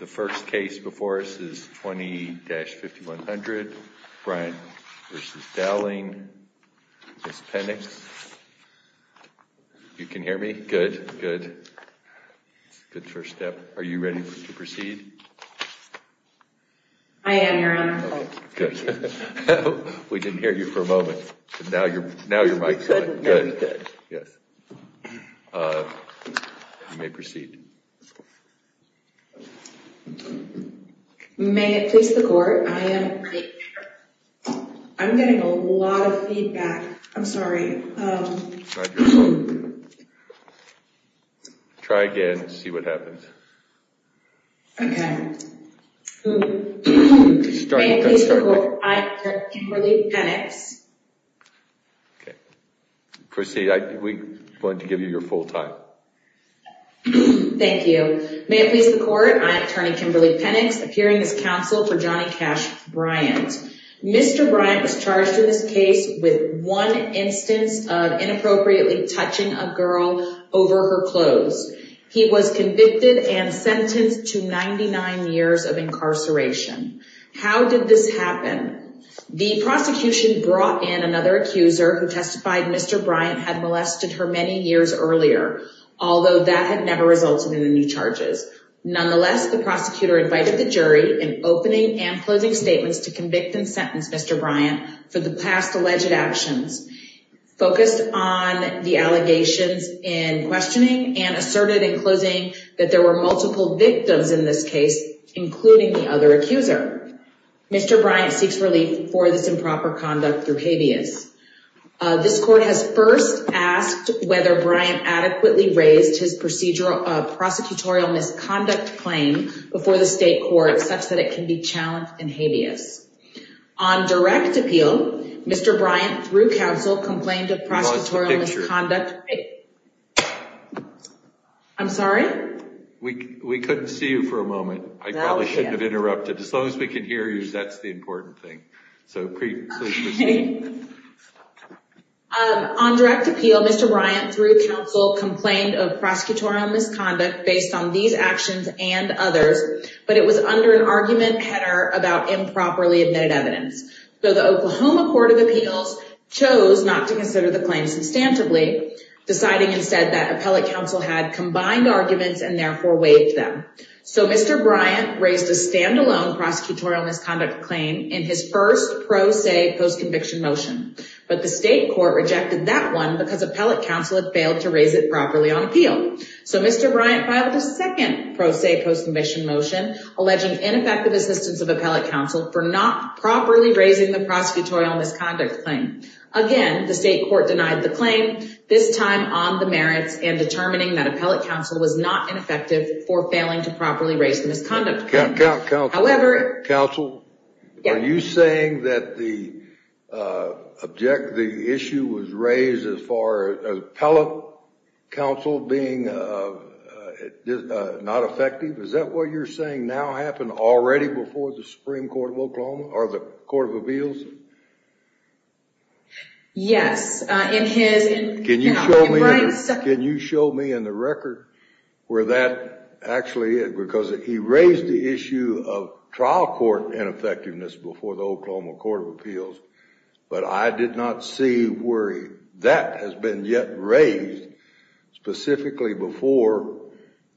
The first case before us is 20-5100, Bryan v. Dowling, Ms. Penix. You can hear me? Good, good. Good first step. Are you ready to proceed? I am, Your Honor. Thank you. We didn't hear you for a moment, but now your mic's on. Good, good. Yes. You may proceed. May it please the Court, I am... I'm getting a lot of feedback. I'm sorry. Try again. See what happens. Okay. May it please the Court, I am Kimberly Penix. Okay. Proceed. We want to give you your full time. Thank you. May it please the Court, I am Attorney Kimberly Penix, appearing as counsel for Johnny Cash Bryant. Mr. Bryant was charged in this case with one instance of inappropriately touching a girl over her clothes. He was convicted and sentenced to 99 years of incarceration. How did this happen? The prosecution brought in another accuser who testified Mr. Bryant had molested her many years earlier, although that had never resulted in any charges. Nonetheless, the prosecutor invited the jury in opening and closing statements to convict and sentence Mr. Bryant for the past alleged actions, focused on the allegations in questioning, and asserted in closing that there were multiple victims in this case, including the other accuser. Mr. Bryant seeks relief for this improper conduct through habeas. This Court has first asked whether Bryant adequately raised his prosecutorial misconduct claim before the state court such that it can be challenged in habeas. On direct appeal, Mr. Bryant, through counsel, complained of prosecutorial misconduct. You lost the picture. I'm sorry? We couldn't see you for a moment. I probably shouldn't have interrupted. As long as we can hear you, that's the important thing. So please proceed. On direct appeal, Mr. Bryant, through counsel, complained of prosecutorial misconduct based on these actions and others, but it was under an argument header about improperly admitted evidence. So the Oklahoma Court of Appeals chose not to consider the claim substantively, deciding instead that appellate counsel had combined arguments and therefore waived them. So Mr. Bryant raised a standalone prosecutorial misconduct claim in his first pro se post-conviction motion, but the state court rejected that one because appellate counsel had failed to raise it properly on appeal. So Mr. Bryant filed a second pro se post-conviction motion, alleging ineffective assistance of appellate counsel for not properly raising the prosecutorial misconduct claim. Again, the state court denied the claim, this time on the merits, and determining that appellate counsel was not ineffective for failing to properly raise the misconduct claim. Counsel, are you saying that the issue was raised as far as appellate counsel being not effective? Is that what you're saying now happened already before the Supreme Court of Oklahoma or the Court of Appeals? Yes. Can you show me in the record where that actually is? Because he raised the issue of trial court ineffectiveness before the Oklahoma Court of Appeals, but I did not see where that has been yet raised specifically as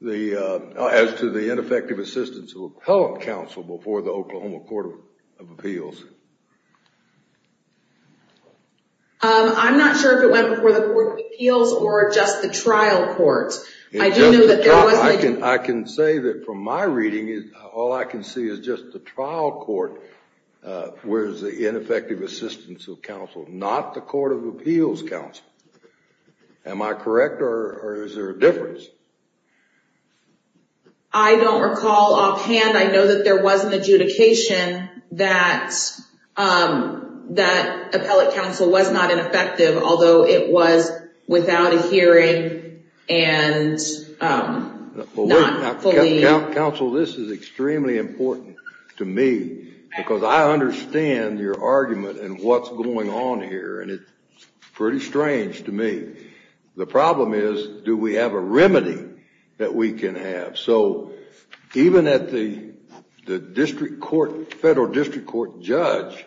to the ineffective assistance of appellate counsel before the Oklahoma Court of Appeals. I'm not sure if it went before the Court of Appeals or just the trial court. I can say that from my reading, all I can see is just the trial court was the ineffective assistance of counsel, not the Court of Appeals counsel. Am I correct or is there a difference? I don't recall offhand. I know that there was an adjudication that appellate counsel was not ineffective, although it was without a hearing and not fully. Counsel, this is extremely important to me because I understand your argument and what's going on here, and it's pretty strange to me. The problem is do we have a remedy that we can have? So even at the district court, federal district court judge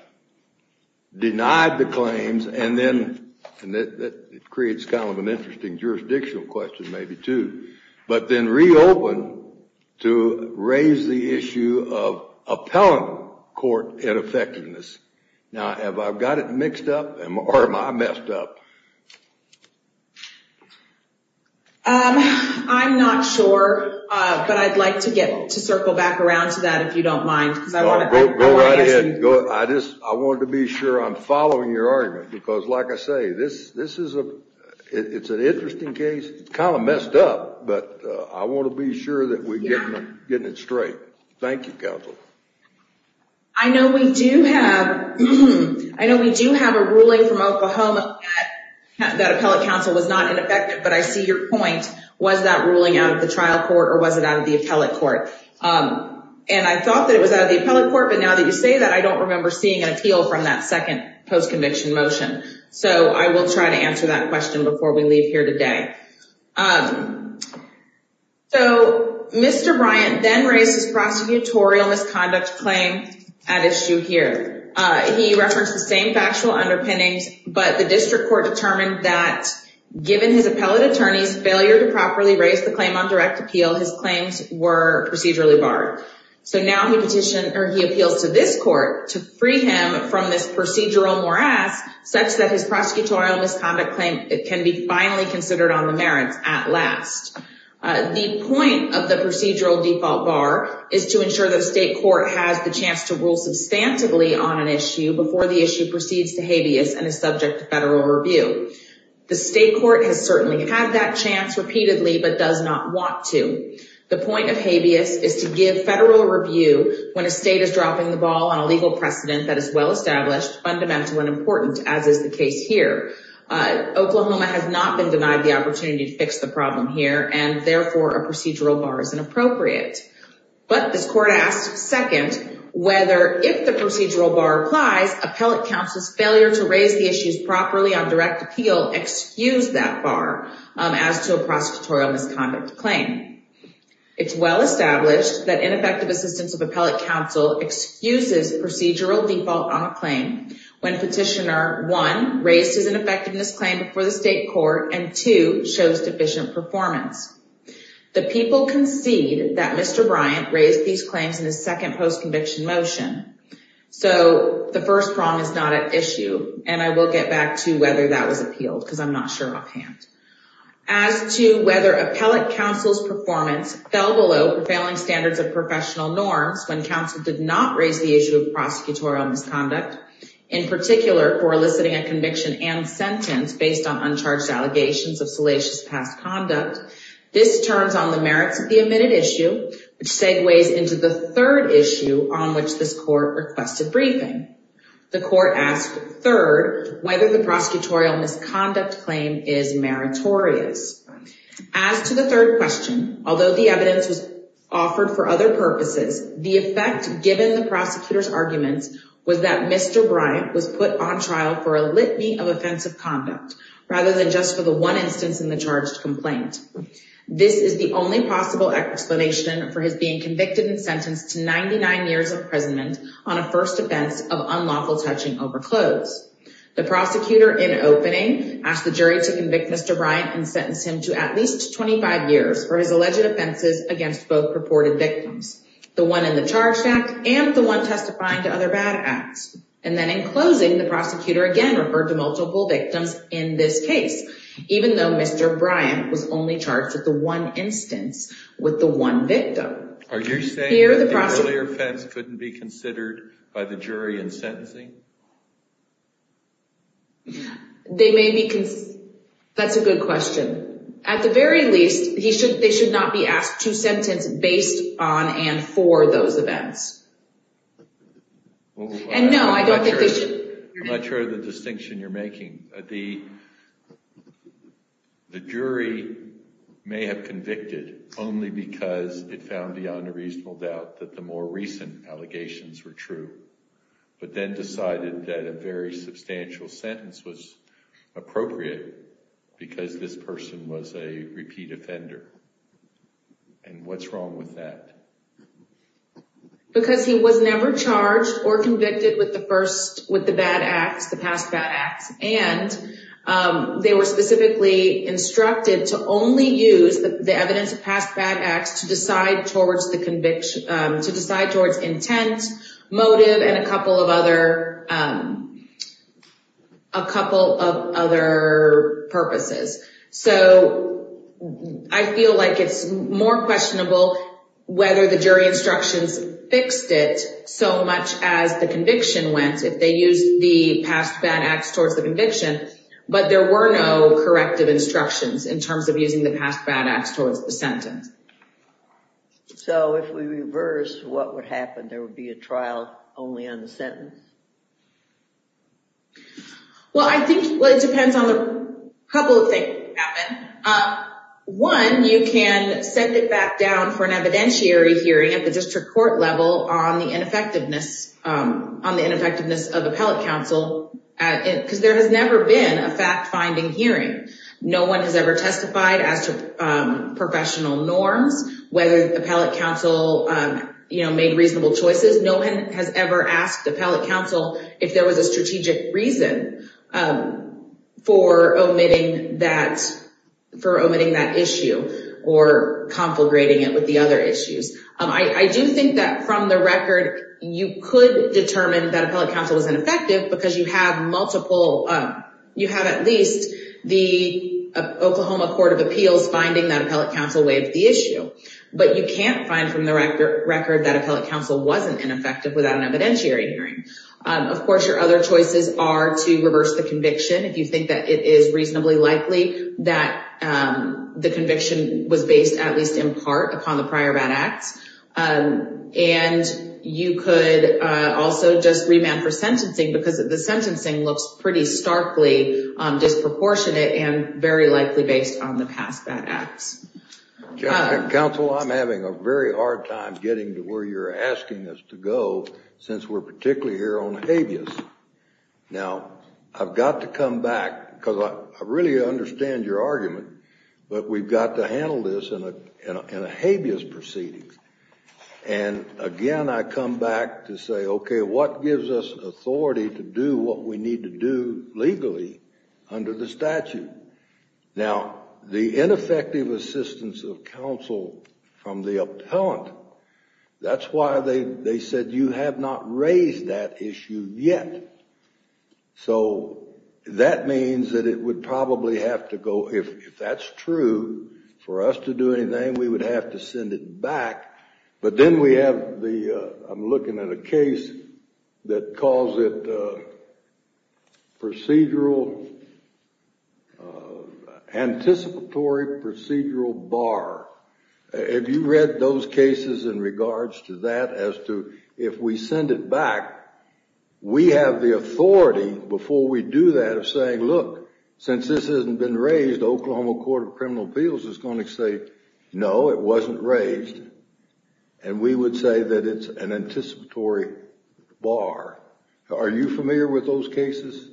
denied the claims and then it creates kind of an interesting jurisdictional question maybe too, but then reopened to raise the issue of appellate court ineffectiveness. Now, have I got it mixed up or am I messed up? I'm not sure, but I'd like to circle back around to that if you don't mind. Go right ahead. I wanted to be sure I'm following your argument because like I say, this is an interesting case. It's kind of messed up, but I want to be sure that we're getting it straight. Thank you, counsel. I know we do have a ruling from Oklahoma that appellate counsel was not ineffective, but I see your point. Was that ruling out of the trial court or was it out of the appellate court? And I thought that it was out of the appellate court, but now that you say that, I don't remember seeing an appeal from that second post-conviction motion. So I will try to answer that question before we leave here today. So Mr. Bryant then raised his prosecutorial misconduct claim at issue here. He referenced the same factual underpinnings, but the district court determined that given his appellate attorney's failure to properly raise the claim on direct appeal, his claims were procedurally barred. So now he appeals to this court to free him from this procedural morass such that his prosecutorial misconduct claim can be finally considered on the merits at last. The point of the procedural default bar is to ensure that the state court has the chance to rule substantively on an issue before the issue proceeds to habeas and is subject to federal review. The state court has certainly had that chance repeatedly but does not want to. The point of habeas is to give federal review when a state is dropping the ball on a legal precedent that is well-established, fundamental, and important as is the case here. Oklahoma has not been denied the opportunity to fix the problem here and therefore a procedural bar is inappropriate. But this court asked second whether if the procedural bar applies, appellate counsel's failure to raise the issues properly on direct appeal excused that bar as to a prosecutorial misconduct claim. It's well-established that ineffective assistance of appellate counsel excuses procedural default on a claim when Petitioner 1 raises an effectiveness claim before the state court and 2 shows deficient performance. The people concede that Mr. Bryant raised these claims in his second post-conviction motion. So the first prong is not at issue and I will get back to whether that was appealed because I'm not sure offhand. As to whether appellate counsel's performance fell below prevailing standards of professional norms when counsel did not raise the issue of prosecutorial misconduct, in particular for eliciting a conviction and sentence based on uncharged allegations of salacious past conduct, this turns on the merits of the omitted issue which segues into the third issue on which this court requested briefing. The court asked third whether the prosecutorial misconduct claim is meritorious. As to the third question, although the evidence was offered for other purposes, the effect given the prosecutor's arguments was that Mr. Bryant was put on trial for a litany of offensive conduct rather than just for the one instance in the charged complaint. This is the only possible explanation for his being convicted and sentenced to 99 years of imprisonment on a first offense of unlawful touching over clothes. The prosecutor in opening asked the jury to convict Mr. Bryant and sentence him to at least 25 years for his alleged offenses against both purported victims. The one in the charged act and the one testifying to other bad acts. And then in closing, the prosecutor again referred to multiple victims in this case even though Mr. Bryant was only charged with the one instance with the one victim. Are you saying that the earlier offense couldn't be considered by the jury in sentencing? They may be—that's a good question. At the very least, they should not be asked to sentence based on and for those events. And no, I don't think they should. The jury may have convicted only because it found beyond a reasonable doubt that the more recent allegations were true, but then decided that a very substantial sentence was appropriate because this person was a repeat offender. And what's wrong with that? Because he was never charged or convicted with the first—with the bad acts, the past bad acts. And they were specifically instructed to only use the evidence of past bad acts to decide towards the conviction—to decide towards intent, motive, and a couple of other purposes. So I feel like it's more questionable whether the jury instructions fixed it so much as the conviction went, if they used the past bad acts towards the conviction, but there were no corrective instructions in terms of using the past bad acts towards the sentence. So if we reverse, what would happen? There would be a trial only on the sentence? Well, I think it depends on a couple of things happen. One, you can send it back down for an evidentiary hearing at the district court level on the ineffectiveness of appellate counsel because there has never been a fact-finding hearing. No one has ever testified as to professional norms, whether appellate counsel made reasonable choices. No one has ever asked appellate counsel if there was a strategic reason for omitting that issue or conflagrating it with the other issues. I do think that from the record, you could determine that appellate counsel was ineffective because you have at least the Oklahoma Court of Appeals finding that appellate counsel waived the issue, but you can't find from the record that appellate counsel wasn't ineffective without an evidentiary hearing. Of course, your other choices are to reverse the conviction if you think that it is reasonably likely that the conviction was based at least in part upon the prior bad acts, and you could also just remand for sentencing because the sentencing looks pretty starkly disproportionate and very likely based on the past bad acts. Counsel, I'm having a very hard time getting to where you're asking us to go since we're particularly here on habeas. Now, I've got to come back because I really understand your argument, but we've got to handle this in a habeas proceeding. And again, I come back to say, OK, what gives us authority to do what we need to do legally under the statute? Now, the ineffective assistance of counsel from the appellant, that's why they said you have not raised that issue yet. So that means that it would probably have to go, if that's true, for us to do anything, we would have to send it back. But then we have the, I'm looking at a case that calls it procedural, anticipatory procedural bar. Have you read those cases in regards to that, as to if we send it back, we have the authority before we do that of saying, look, since this hasn't been raised, the Oklahoma Court of Criminal Appeals is going to say, no, it wasn't raised. And we would say that it's an anticipatory bar. Are you familiar with those cases?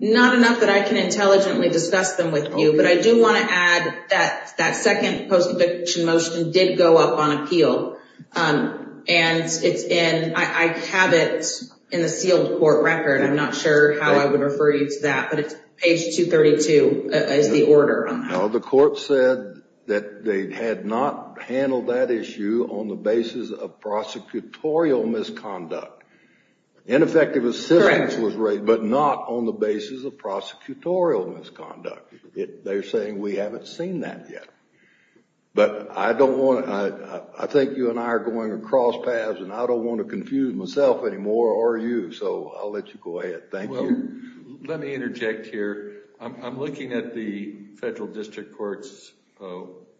Not enough that I can intelligently discuss them with you. But I do want to add that that second post eviction motion did go up on appeal. And it's in, I have it in the sealed court record. I'm not sure how I would refer you to that. But it's page 232 is the order. The court said that they had not handled that issue on the basis of prosecutorial misconduct. Ineffective assistance was raised, but not on the basis of prosecutorial misconduct. They're saying we haven't seen that yet. But I don't want to, I think you and I are going across paths, and I don't want to confuse myself anymore, or you. So I'll let you go ahead. Thank you. Well, let me interject here. I'm looking at the federal district court's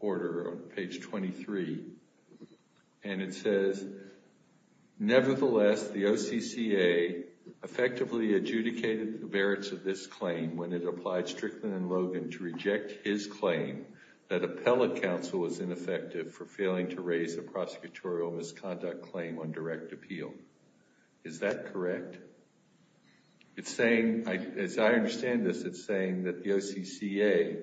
order on page 23. And it says, nevertheless, the OCCA effectively adjudicated the merits of this claim when it applied Strickland and Logan to reject his claim that appellate counsel was ineffective for failing to raise a prosecutorial misconduct claim on direct appeal. Is that correct? It's saying, as I understand this, it's saying that the OCCA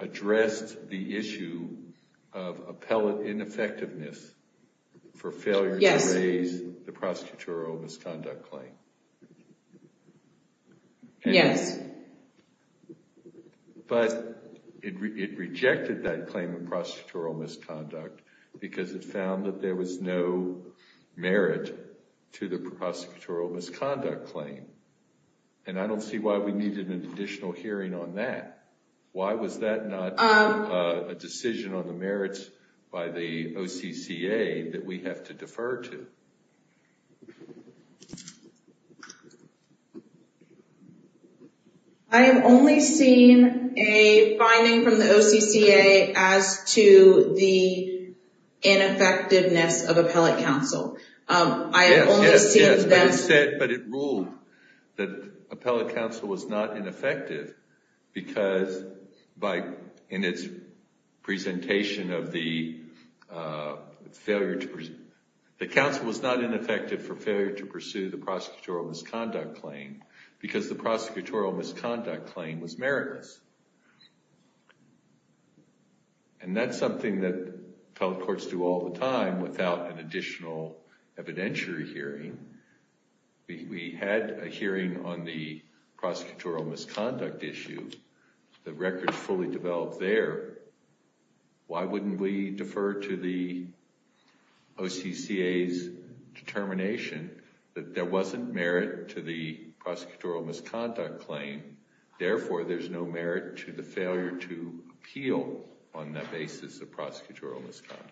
addressed the issue of appellate ineffectiveness for failure to raise the prosecutorial misconduct claim. Yes. But it rejected that claim of prosecutorial misconduct because it found that there was no merit to the prosecutorial misconduct claim. And I don't see why we needed an additional hearing on that. Why was that not a decision on the merits by the OCCA that we have to defer to? I have only seen a finding from the OCCA as to the ineffectiveness of appellate counsel. Yes, yes. But it ruled that appellate counsel was not ineffective because in its presentation of the failure to the counsel was not ineffective for failure to pursue the prosecutorial misconduct claim because the prosecutorial misconduct claim was meritless. And that's something that appellate courts do all the time without an additional evidentiary hearing. We had a hearing on the prosecutorial misconduct issue. The record is fully developed there. Why wouldn't we defer to the OCCA's determination that there wasn't merit to the prosecutorial misconduct claim? Therefore, there's no merit to the failure to appeal on that basis of prosecutorial misconduct.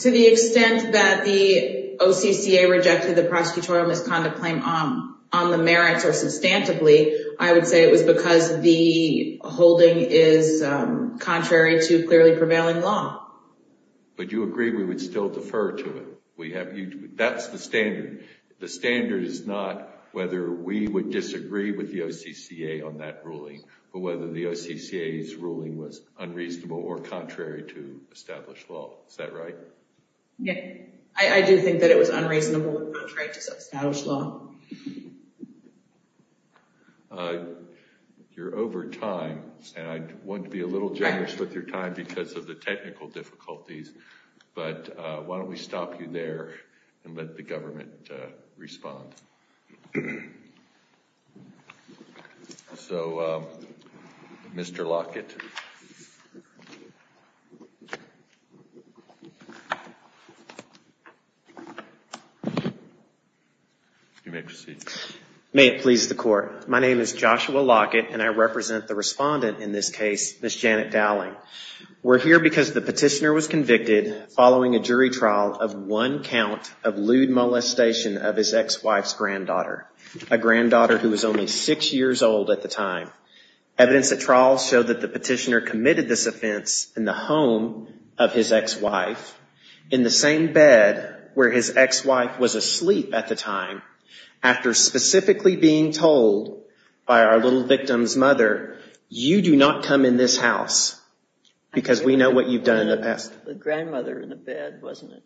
To the extent that the OCCA rejected the prosecutorial misconduct claim on the merits or substantively, I would say it was because the holding is contrary to clearly prevailing law. But you agree we would still defer to it. That's the standard. The standard is not whether we would disagree with the OCCA on that ruling, but whether the OCCA's ruling was unreasonable or contrary to established law. Is that right? Yes. I do think that it was unreasonable and contrary to established law. You're over time, and I want to be a little generous with your time because of the technical difficulties. But why don't we stop you there and let the government respond. So, Mr. Lockett. You may proceed. May it please the court. My name is Joshua Lockett, and I represent the respondent in this case, Ms. Janet Dowling. We're here because the petitioner was convicted following a jury trial of one count of lewd molestation of his ex-wife's granddaughter, a granddaughter who was only six years old at the time. Evidence at trial showed that the petitioner committed this offense in the home of his ex-wife, in the same bed where his ex-wife was asleep at the time, after specifically being told by our little victim's mother, you do not come in this house because we know what you've done in the past. The grandmother in the bed, wasn't it?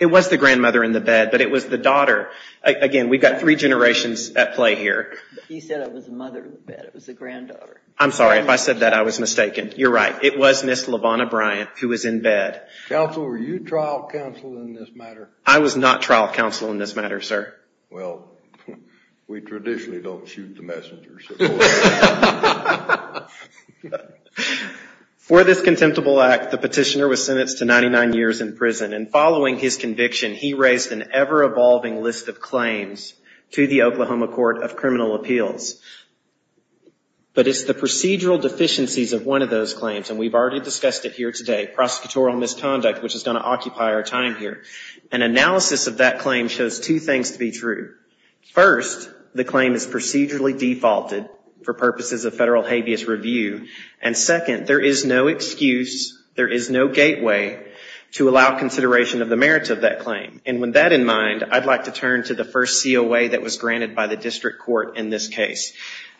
It was the grandmother in the bed, but it was the daughter. Again, we've got three generations at play here. He said it was the mother in the bed. It was the granddaughter. I'm sorry. If I said that, I was mistaken. You're right. It was Ms. LaVonna Bryant, who was in bed. Counsel, were you trial counsel in this matter? I was not trial counsel in this matter, sir. Well, we traditionally don't shoot the messengers. For this contemptible act, the petitioner was sentenced to 99 years in prison, and following his conviction, he raised an ever-evolving list of claims to the Oklahoma Court of Criminal Appeals. But it's the procedural deficiencies of one of those claims, and we've already discussed it here today, prosecutorial misconduct, which is going to occupy our time here. An analysis of that claim shows two things to be true. First, the claim is procedurally defaulted for purposes of federal habeas review, and second, there is no excuse, there is no gateway, to allow consideration of the merits of that claim. And with that in mind, I'd like to turn to the first COA that was granted by the district court in this case.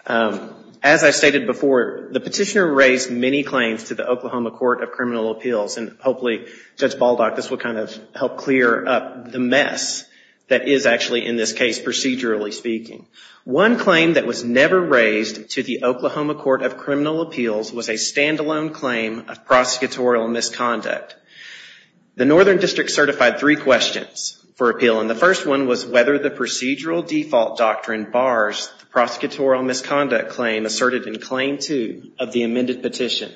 As I stated before, the petitioner raised many claims to the Oklahoma Court of Criminal Appeals, and hopefully, Judge Baldock, this will kind of help clear up the mess that is actually in this case, procedurally speaking. One claim that was never raised to the Oklahoma Court of Criminal Appeals was a stand-alone claim of prosecutorial misconduct. The northern district certified three questions for appeal, and the first one was whether the procedural default doctrine bars the prosecutorial misconduct claim asserted in Claim 2 of the amended petition.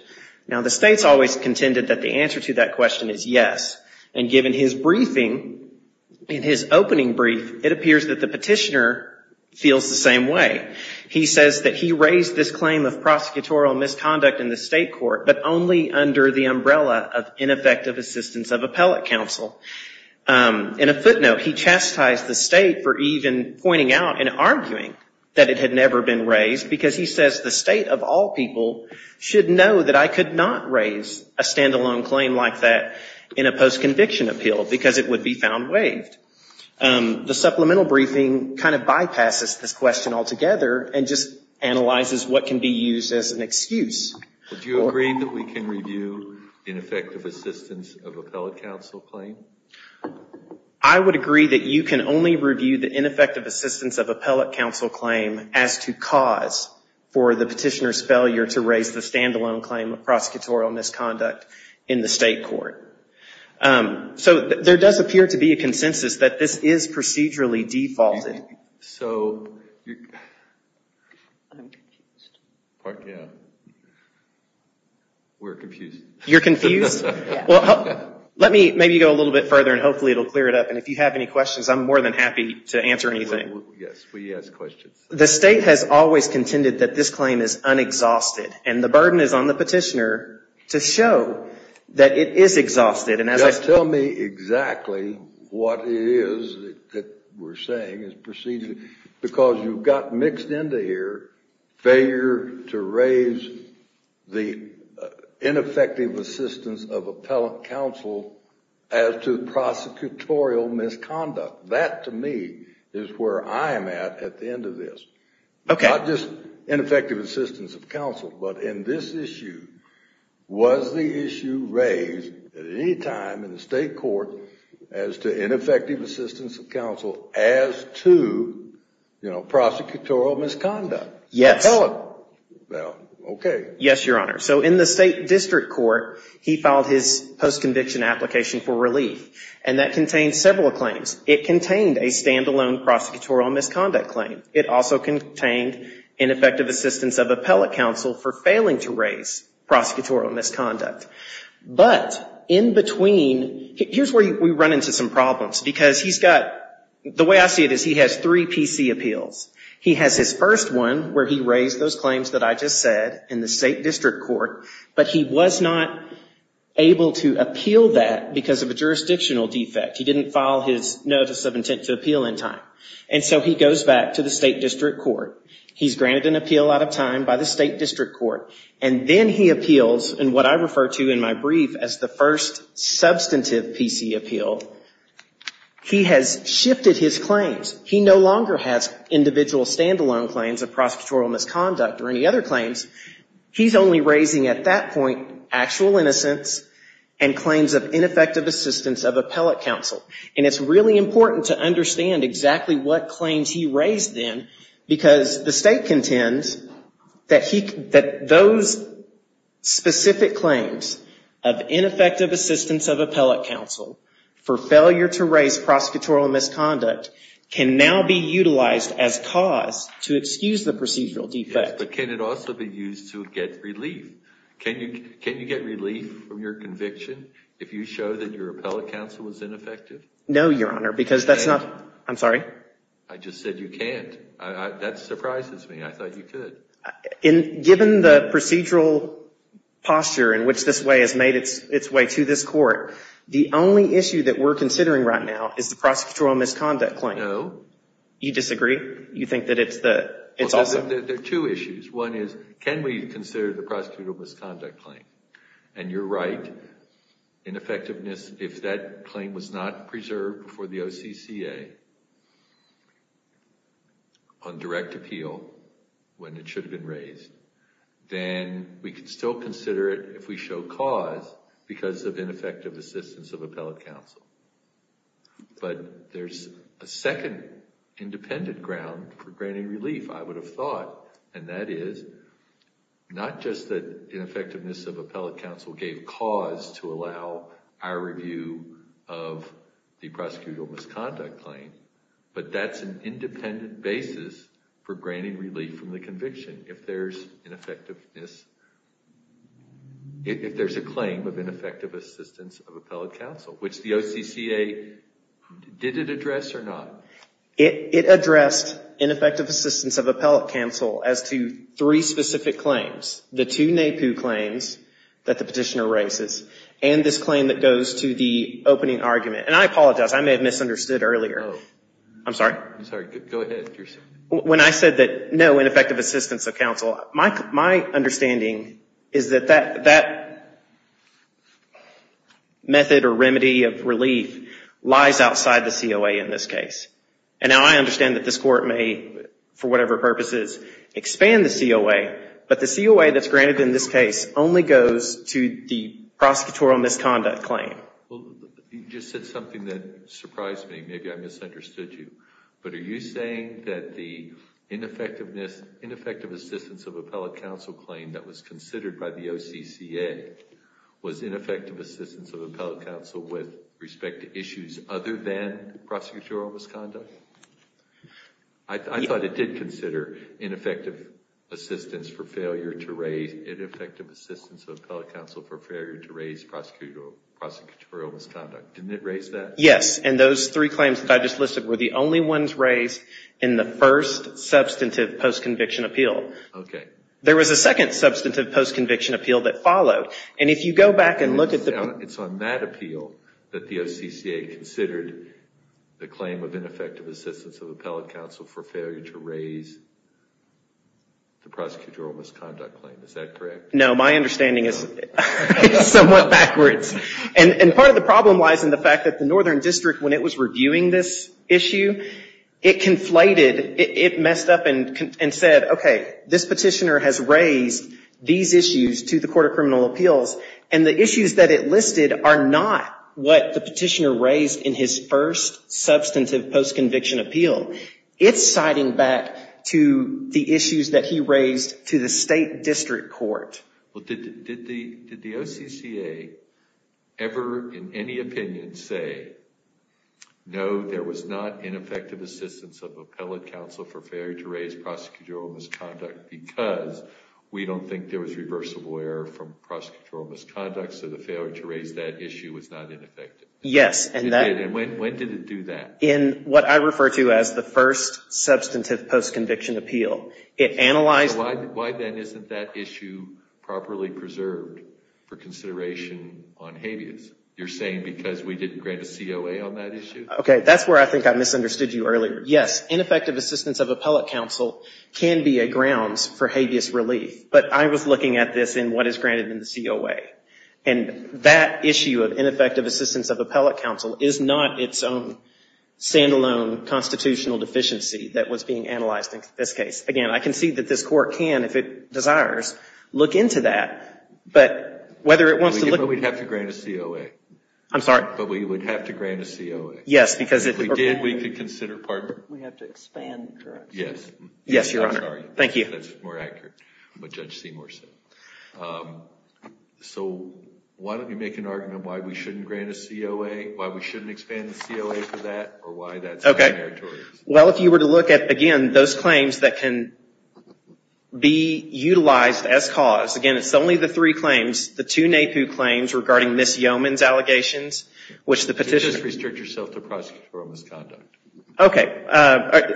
Now, the state's always contended that the answer to that question is yes, and given his briefing, in his opening brief, it appears that the petitioner feels the same way. He says that he raised this claim of prosecutorial misconduct in the state court, but only under the umbrella of ineffective assistance of appellate counsel. In a footnote, he chastised the state for even pointing out and arguing that it had never been raised, because he says, the state of all people should know that I could not raise a stand-alone claim like that in a post-conviction appeal, because it would be found waived. The supplemental briefing kind of bypasses this question altogether and just analyzes what can be used as an excuse. Do you agree that we can review ineffective assistance of appellate counsel claim? I would agree that you can only review the ineffective assistance of appellate counsel claim as to cause for the petitioner's failure to raise the stand-alone claim of prosecutorial misconduct in the state court. So there does appear to be a consensus that this is procedurally defaulted. So, we're confused. You're confused? Well, let me maybe go a little bit further, and hopefully it will clear it up, and if you have any questions, I'm more than happy to answer anything. Yes, we ask questions. The state has always contended that this claim is unexhausted, and the burden is on the petitioner to show that it is exhausted. Just tell me exactly what it is that we're saying is procedurally, because you've got mixed into here failure to raise the ineffective assistance of appellate counsel as to prosecutorial misconduct. That, to me, is where I am at at the end of this. Okay. Not just ineffective assistance of counsel, but in this issue, was the issue raised at any time in the state court as to ineffective assistance of counsel as to prosecutorial misconduct? Yes. Tell it. Okay. Yes, Your Honor. So, in the state district court, he filed his post-conviction application for relief, and that contains several claims. It contained a stand-alone prosecutorial misconduct claim. It also contained ineffective assistance of appellate counsel for failing to raise prosecutorial misconduct. But in between, here's where we run into some problems, because he's got, the way I see it is he has three PC appeals. He has his first one where he raised those claims that I just said in the state district court, but he was not able to appeal that because of a jurisdictional defect. He didn't file his notice of intent to appeal in time. And so he goes back to the state district court. He's granted an appeal out of time by the state district court, and then he appeals in what I refer to in my brief as the first substantive PC appeal. He has shifted his claims. He no longer has individual stand-alone claims of prosecutorial misconduct or any other claims. He's only raising at that point actual innocence and claims of ineffective assistance of appellate counsel. And it's really important to understand exactly what claims he raised then, because the state contends that those specific claims of ineffective assistance of appellate counsel for failure to raise prosecutorial misconduct can now be utilized as cause to excuse the procedural defect. But can it also be used to get relief? Can you get relief from your conviction if you show that your appellate counsel was ineffective? No, Your Honor, because that's not... I'm sorry? I just said you can't. That surprises me. I thought you could. Given the procedural posture in which this way has made its way to this court, the only issue that we're considering right now is the prosecutorial misconduct claim. No. You disagree? You think that it's also... There are two issues. One is, can we consider the prosecutorial misconduct claim? And you're right. Ineffectiveness, if that claim was not preserved before the OCCA on direct appeal, when it should have been raised, then we could still consider it if we show cause because of ineffective assistance of appellate counsel. But there's a second independent ground for granting relief, I would have thought, and that is not just that ineffectiveness of appellate counsel gave cause to allow our review of the prosecutorial misconduct claim, but that's an independent basis for granting relief from the conviction if there's ineffectiveness... if there's a claim of ineffective assistance of appellate counsel, which the OCCA, did it address or not? It addressed ineffective assistance of appellate counsel as to three specific claims. The two NAPU claims that the petitioner raises and this claim that goes to the opening argument. And I apologize. I may have misunderstood earlier. No. I'm sorry? I'm sorry. Go ahead. When I said that no, ineffective assistance of counsel, my understanding is that that method or remedy of relief lies outside the COA in this case. And now I understand that this court may, for whatever purposes, expand the COA, but the COA that's granted in this case only goes to the prosecutorial misconduct claim. You just said something that surprised me. Maybe I misunderstood you. But are you saying that the ineffective assistance of appellate counsel claim that was considered by the OCCA was ineffective assistance of appellate counsel with respect to issues other than prosecutorial misconduct? I thought it did consider ineffective assistance of appellate counsel for failure to raise prosecutorial misconduct. Didn't it raise that? Yes. And those three claims that I just listed were the only ones raised in the first substantive post-conviction appeal. Okay. There was a second substantive post-conviction appeal that followed. And if you go back and look at the – It's on that appeal that the OCCA considered the claim of ineffective assistance of appellate counsel for failure to raise the prosecutorial misconduct claim. Is that correct? No. My understanding is somewhat backwards. And part of the problem lies in the fact that the Northern District, when it was reviewing this issue, it conflated. It messed up and said, okay, this petitioner has raised these issues to the Court of Criminal Appeals, and the issues that it listed are not what the petitioner raised in his first substantive post-conviction appeal. It's citing back to the issues that he raised to the State District Court. But did the OCCA ever in any opinion say, no, there was not ineffective assistance of appellate counsel for failure to raise prosecutorial misconduct because we don't think there was reversible error from prosecutorial misconduct, so the failure to raise that issue was not ineffective? Yes. And when did it do that? In what I refer to as the first substantive post-conviction appeal. Why, then, isn't that issue properly preserved for consideration on habeas? You're saying because we didn't grant a COA on that issue? Okay, that's where I think I misunderstood you earlier. Yes, ineffective assistance of appellate counsel can be a grounds for habeas relief. But I was looking at this in what is granted in the COA. And that issue of ineffective assistance of appellate counsel is not its own stand-alone constitutional deficiency that was being analyzed in this case. Again, I can see that this Court can, if it desires, look into that. But whether it wants to look into it. But we'd have to grant a COA. I'm sorry? But we would have to grant a COA. Yes, because if we did, we could consider. Pardon me? We have to expand. Yes. Yes, Your Honor. I'm sorry. Thank you. That's more accurate, what Judge Seymour said. So why don't you make an argument why we shouldn't grant a COA, why we shouldn't expand the COA for that, or why that's not a meritorious? Well, if you were to look at, again, those claims that can be utilized as cause. Again, it's only the three claims. The two NAPU claims regarding Ms. Yeoman's allegations, which the petitioner. Just restrict yourself to prosecutorial misconduct. Okay.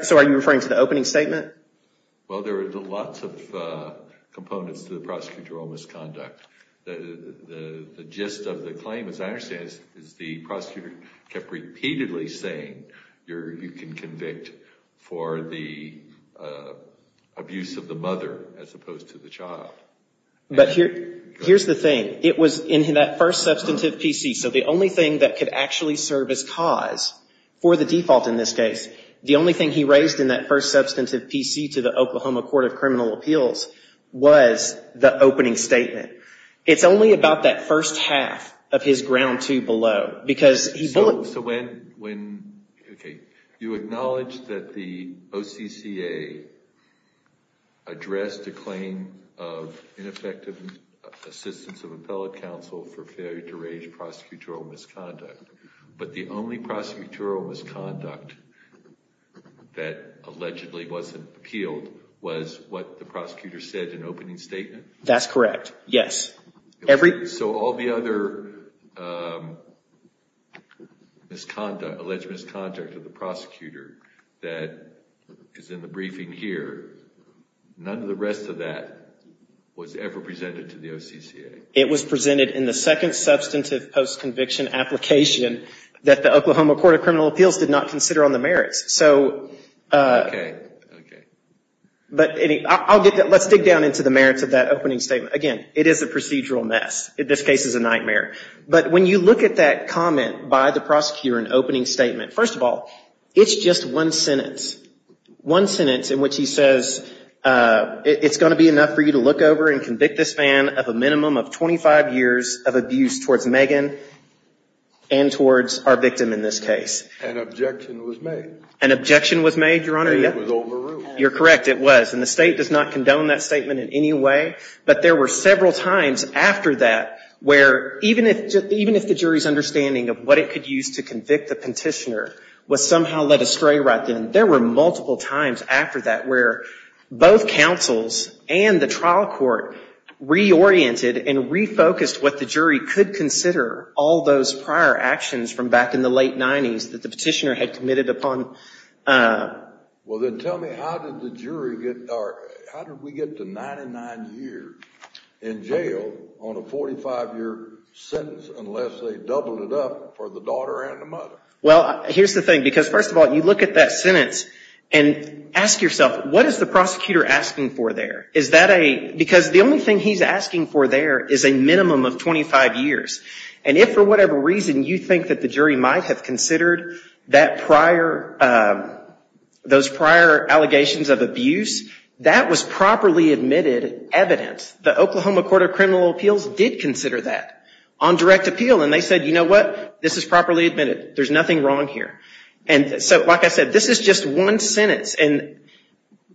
So are you referring to the opening statement? Well, there are lots of components to the prosecutorial misconduct. The gist of the claim, as I understand it, is the prosecutor kept repeatedly saying, you can convict for the abuse of the mother as opposed to the child. But here's the thing. It was in that first substantive PC. So the only thing that could actually serve as cause for the default in this case, the only thing he raised in that first substantive PC to the Oklahoma Court of Criminal Appeals was the opening statement. It's only about that first half of his ground two below. So when you acknowledge that the OCCA addressed a claim of ineffective assistance of appellate counsel for failure to raise prosecutorial misconduct, but the only prosecutorial misconduct that allegedly wasn't appealed was what the prosecutor said in opening statement? That's correct, yes. So all the other alleged misconduct of the prosecutor that is in the briefing here, none of the rest of that was ever presented to the OCCA? It was presented in the second substantive post-conviction application that the Oklahoma Court of Criminal Appeals did not consider on the merits. Okay, okay. Let's dig down into the merits of that opening statement. Again, it is a procedural mess. This case is a nightmare. But when you look at that comment by the prosecutor in opening statement, first of all, it's just one sentence, one sentence in which he says it's going to be enough for you to look over and convict this man of a minimum of 25 years of abuse towards Megan and towards our victim in this case. An objection was made. An objection was made, Your Honor. And it was overruled. You're correct, it was. And the State does not condone that statement in any way. But there were several times after that where, even if the jury's understanding of what it could use to convict the petitioner was somehow led astray right then, there were multiple times after that where both counsels and the trial court reoriented and refocused what the jury could consider all those prior actions from back in the late 90s that the petitioner had committed upon. Well, then tell me how did the jury get, or how did we get to 99 years in jail on a 45-year sentence unless they doubled it up for the daughter and the mother? Well, here's the thing. Because, first of all, you look at that sentence and ask yourself, what is the prosecutor asking for there? Is that a, because the only thing he's asking for there is a minimum of 25 years. And if for whatever reason you think that the jury might have considered that prior, those prior allegations of abuse, that was properly admitted evidence. The Oklahoma Court of Criminal Appeals did consider that on direct appeal. And they said, you know what, this is properly admitted. There's nothing wrong here. And so, like I said, this is just one sentence. And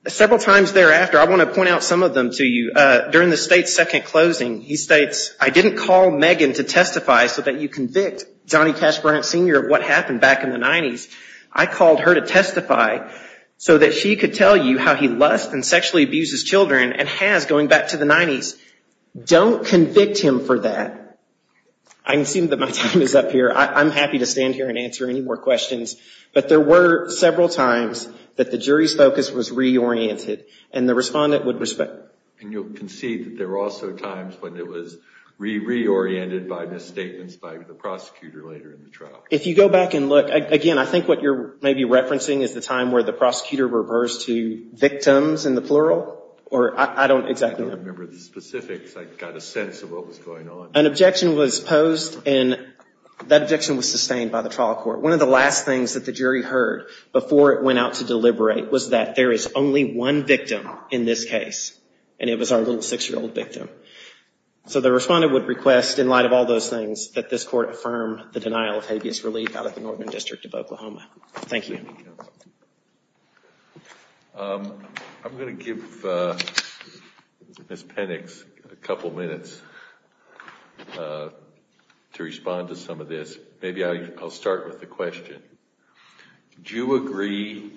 several times thereafter, I want to point out some of them to you. During the State's second closing, he states, I didn't call Megan to testify so that you convict Johnny Cash Brant Sr. of what happened back in the 90s. I called her to testify so that she could tell you how he lusts and sexually abuses children and has going back to the 90s. Don't convict him for that. I assume that my time is up here. I'm happy to stand here and answer any more questions. But there were several times that the jury's focus was reoriented, and the respondent would respect. And you'll concede that there were also times when it was reoriented by misstatements by the prosecutor later in the trial. If you go back and look, again, I think what you're maybe referencing is the time where the prosecutor reversed to victims in the plural. I don't remember the specifics. I got a sense of what was going on. An objection was posed, and that objection was sustained by the trial court. One of the last things that the jury heard before it went out to deliberate was that there is only one victim in this case, and it was our little six-year-old victim. So the respondent would request, in light of all those things, that this court affirm the denial of habeas relief out of the Northern District of Oklahoma. Thank you. I'm going to give Ms. Penix a couple minutes to respond to some of this. Maybe I'll start with the question. Do you agree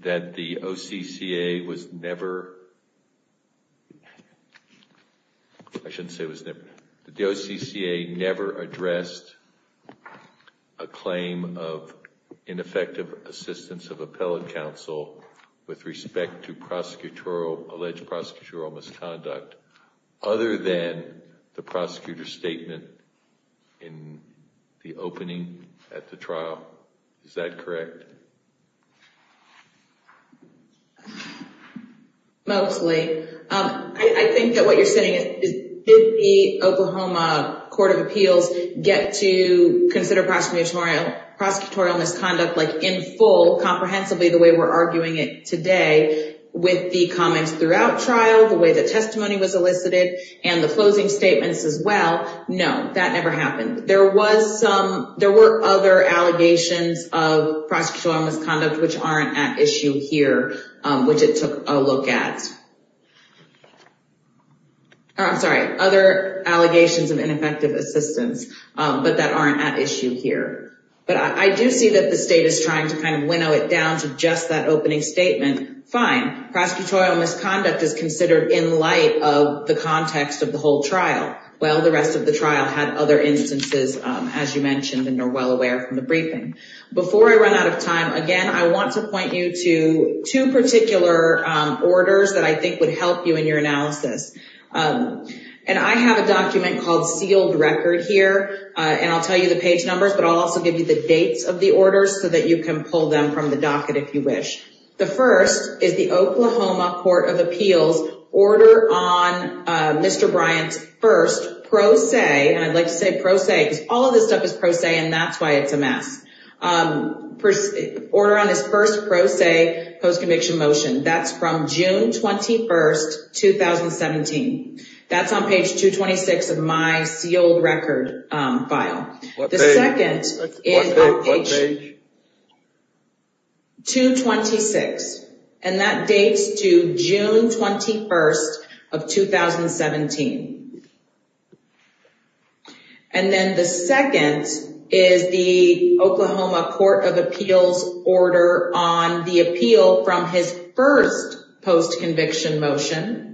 that the OCCA never addressed a claim of ineffective assistance of appellate counsel with respect to alleged prosecutorial misconduct other than the prosecutor's statement in the opening at the trial? Is that correct? Mostly. I think that what you're saying is did the Oklahoma Court of Appeals get to consider prosecutorial misconduct in full, comprehensively, the way we're arguing it today, with the comments throughout trial, the way the testimony was elicited, and the closing statements as well? No, that never happened. There were other allegations of prosecutorial misconduct which aren't at issue here, which it took a look at. I'm sorry, other allegations of ineffective assistance, but that aren't at issue here. But I do see that the state is trying to winnow it down to just that opening statement. Fine, prosecutorial misconduct is considered in light of the context of the whole trial. Well, the rest of the trial had other instances, as you mentioned, and are well aware from the briefing. Before I run out of time, again, I want to point you to two particular orders that I think would help you in your analysis. I have a document called Sealed Record here, and I'll tell you the page numbers, but I'll also give you the dates of the orders so that you can pull them from the docket if you wish. The first is the Oklahoma Court of Appeals order on Mr. Bryant's first pro se, and I'd like to say pro se because all of this stuff is pro se, and that's why it's a mess, order on his first pro se post-conviction motion. That's from June 21, 2017. That's on page 226 of my Sealed Record file. The second is on page 226, and that dates to June 21 of 2017. And then the second is the Oklahoma Court of Appeals order on the appeal from his first post-conviction motion,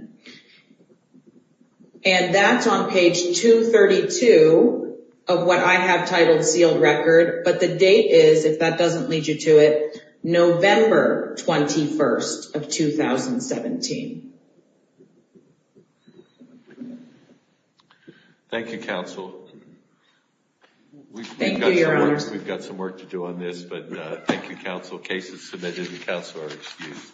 and that's on page 232 of what I have titled Sealed Record, but the date is, if that doesn't lead you to it, November 21 of 2017. Thank you, counsel. Thank you, your honors. We've got some work to do on this, but thank you, counsel. Cases submitted to counsel are excused.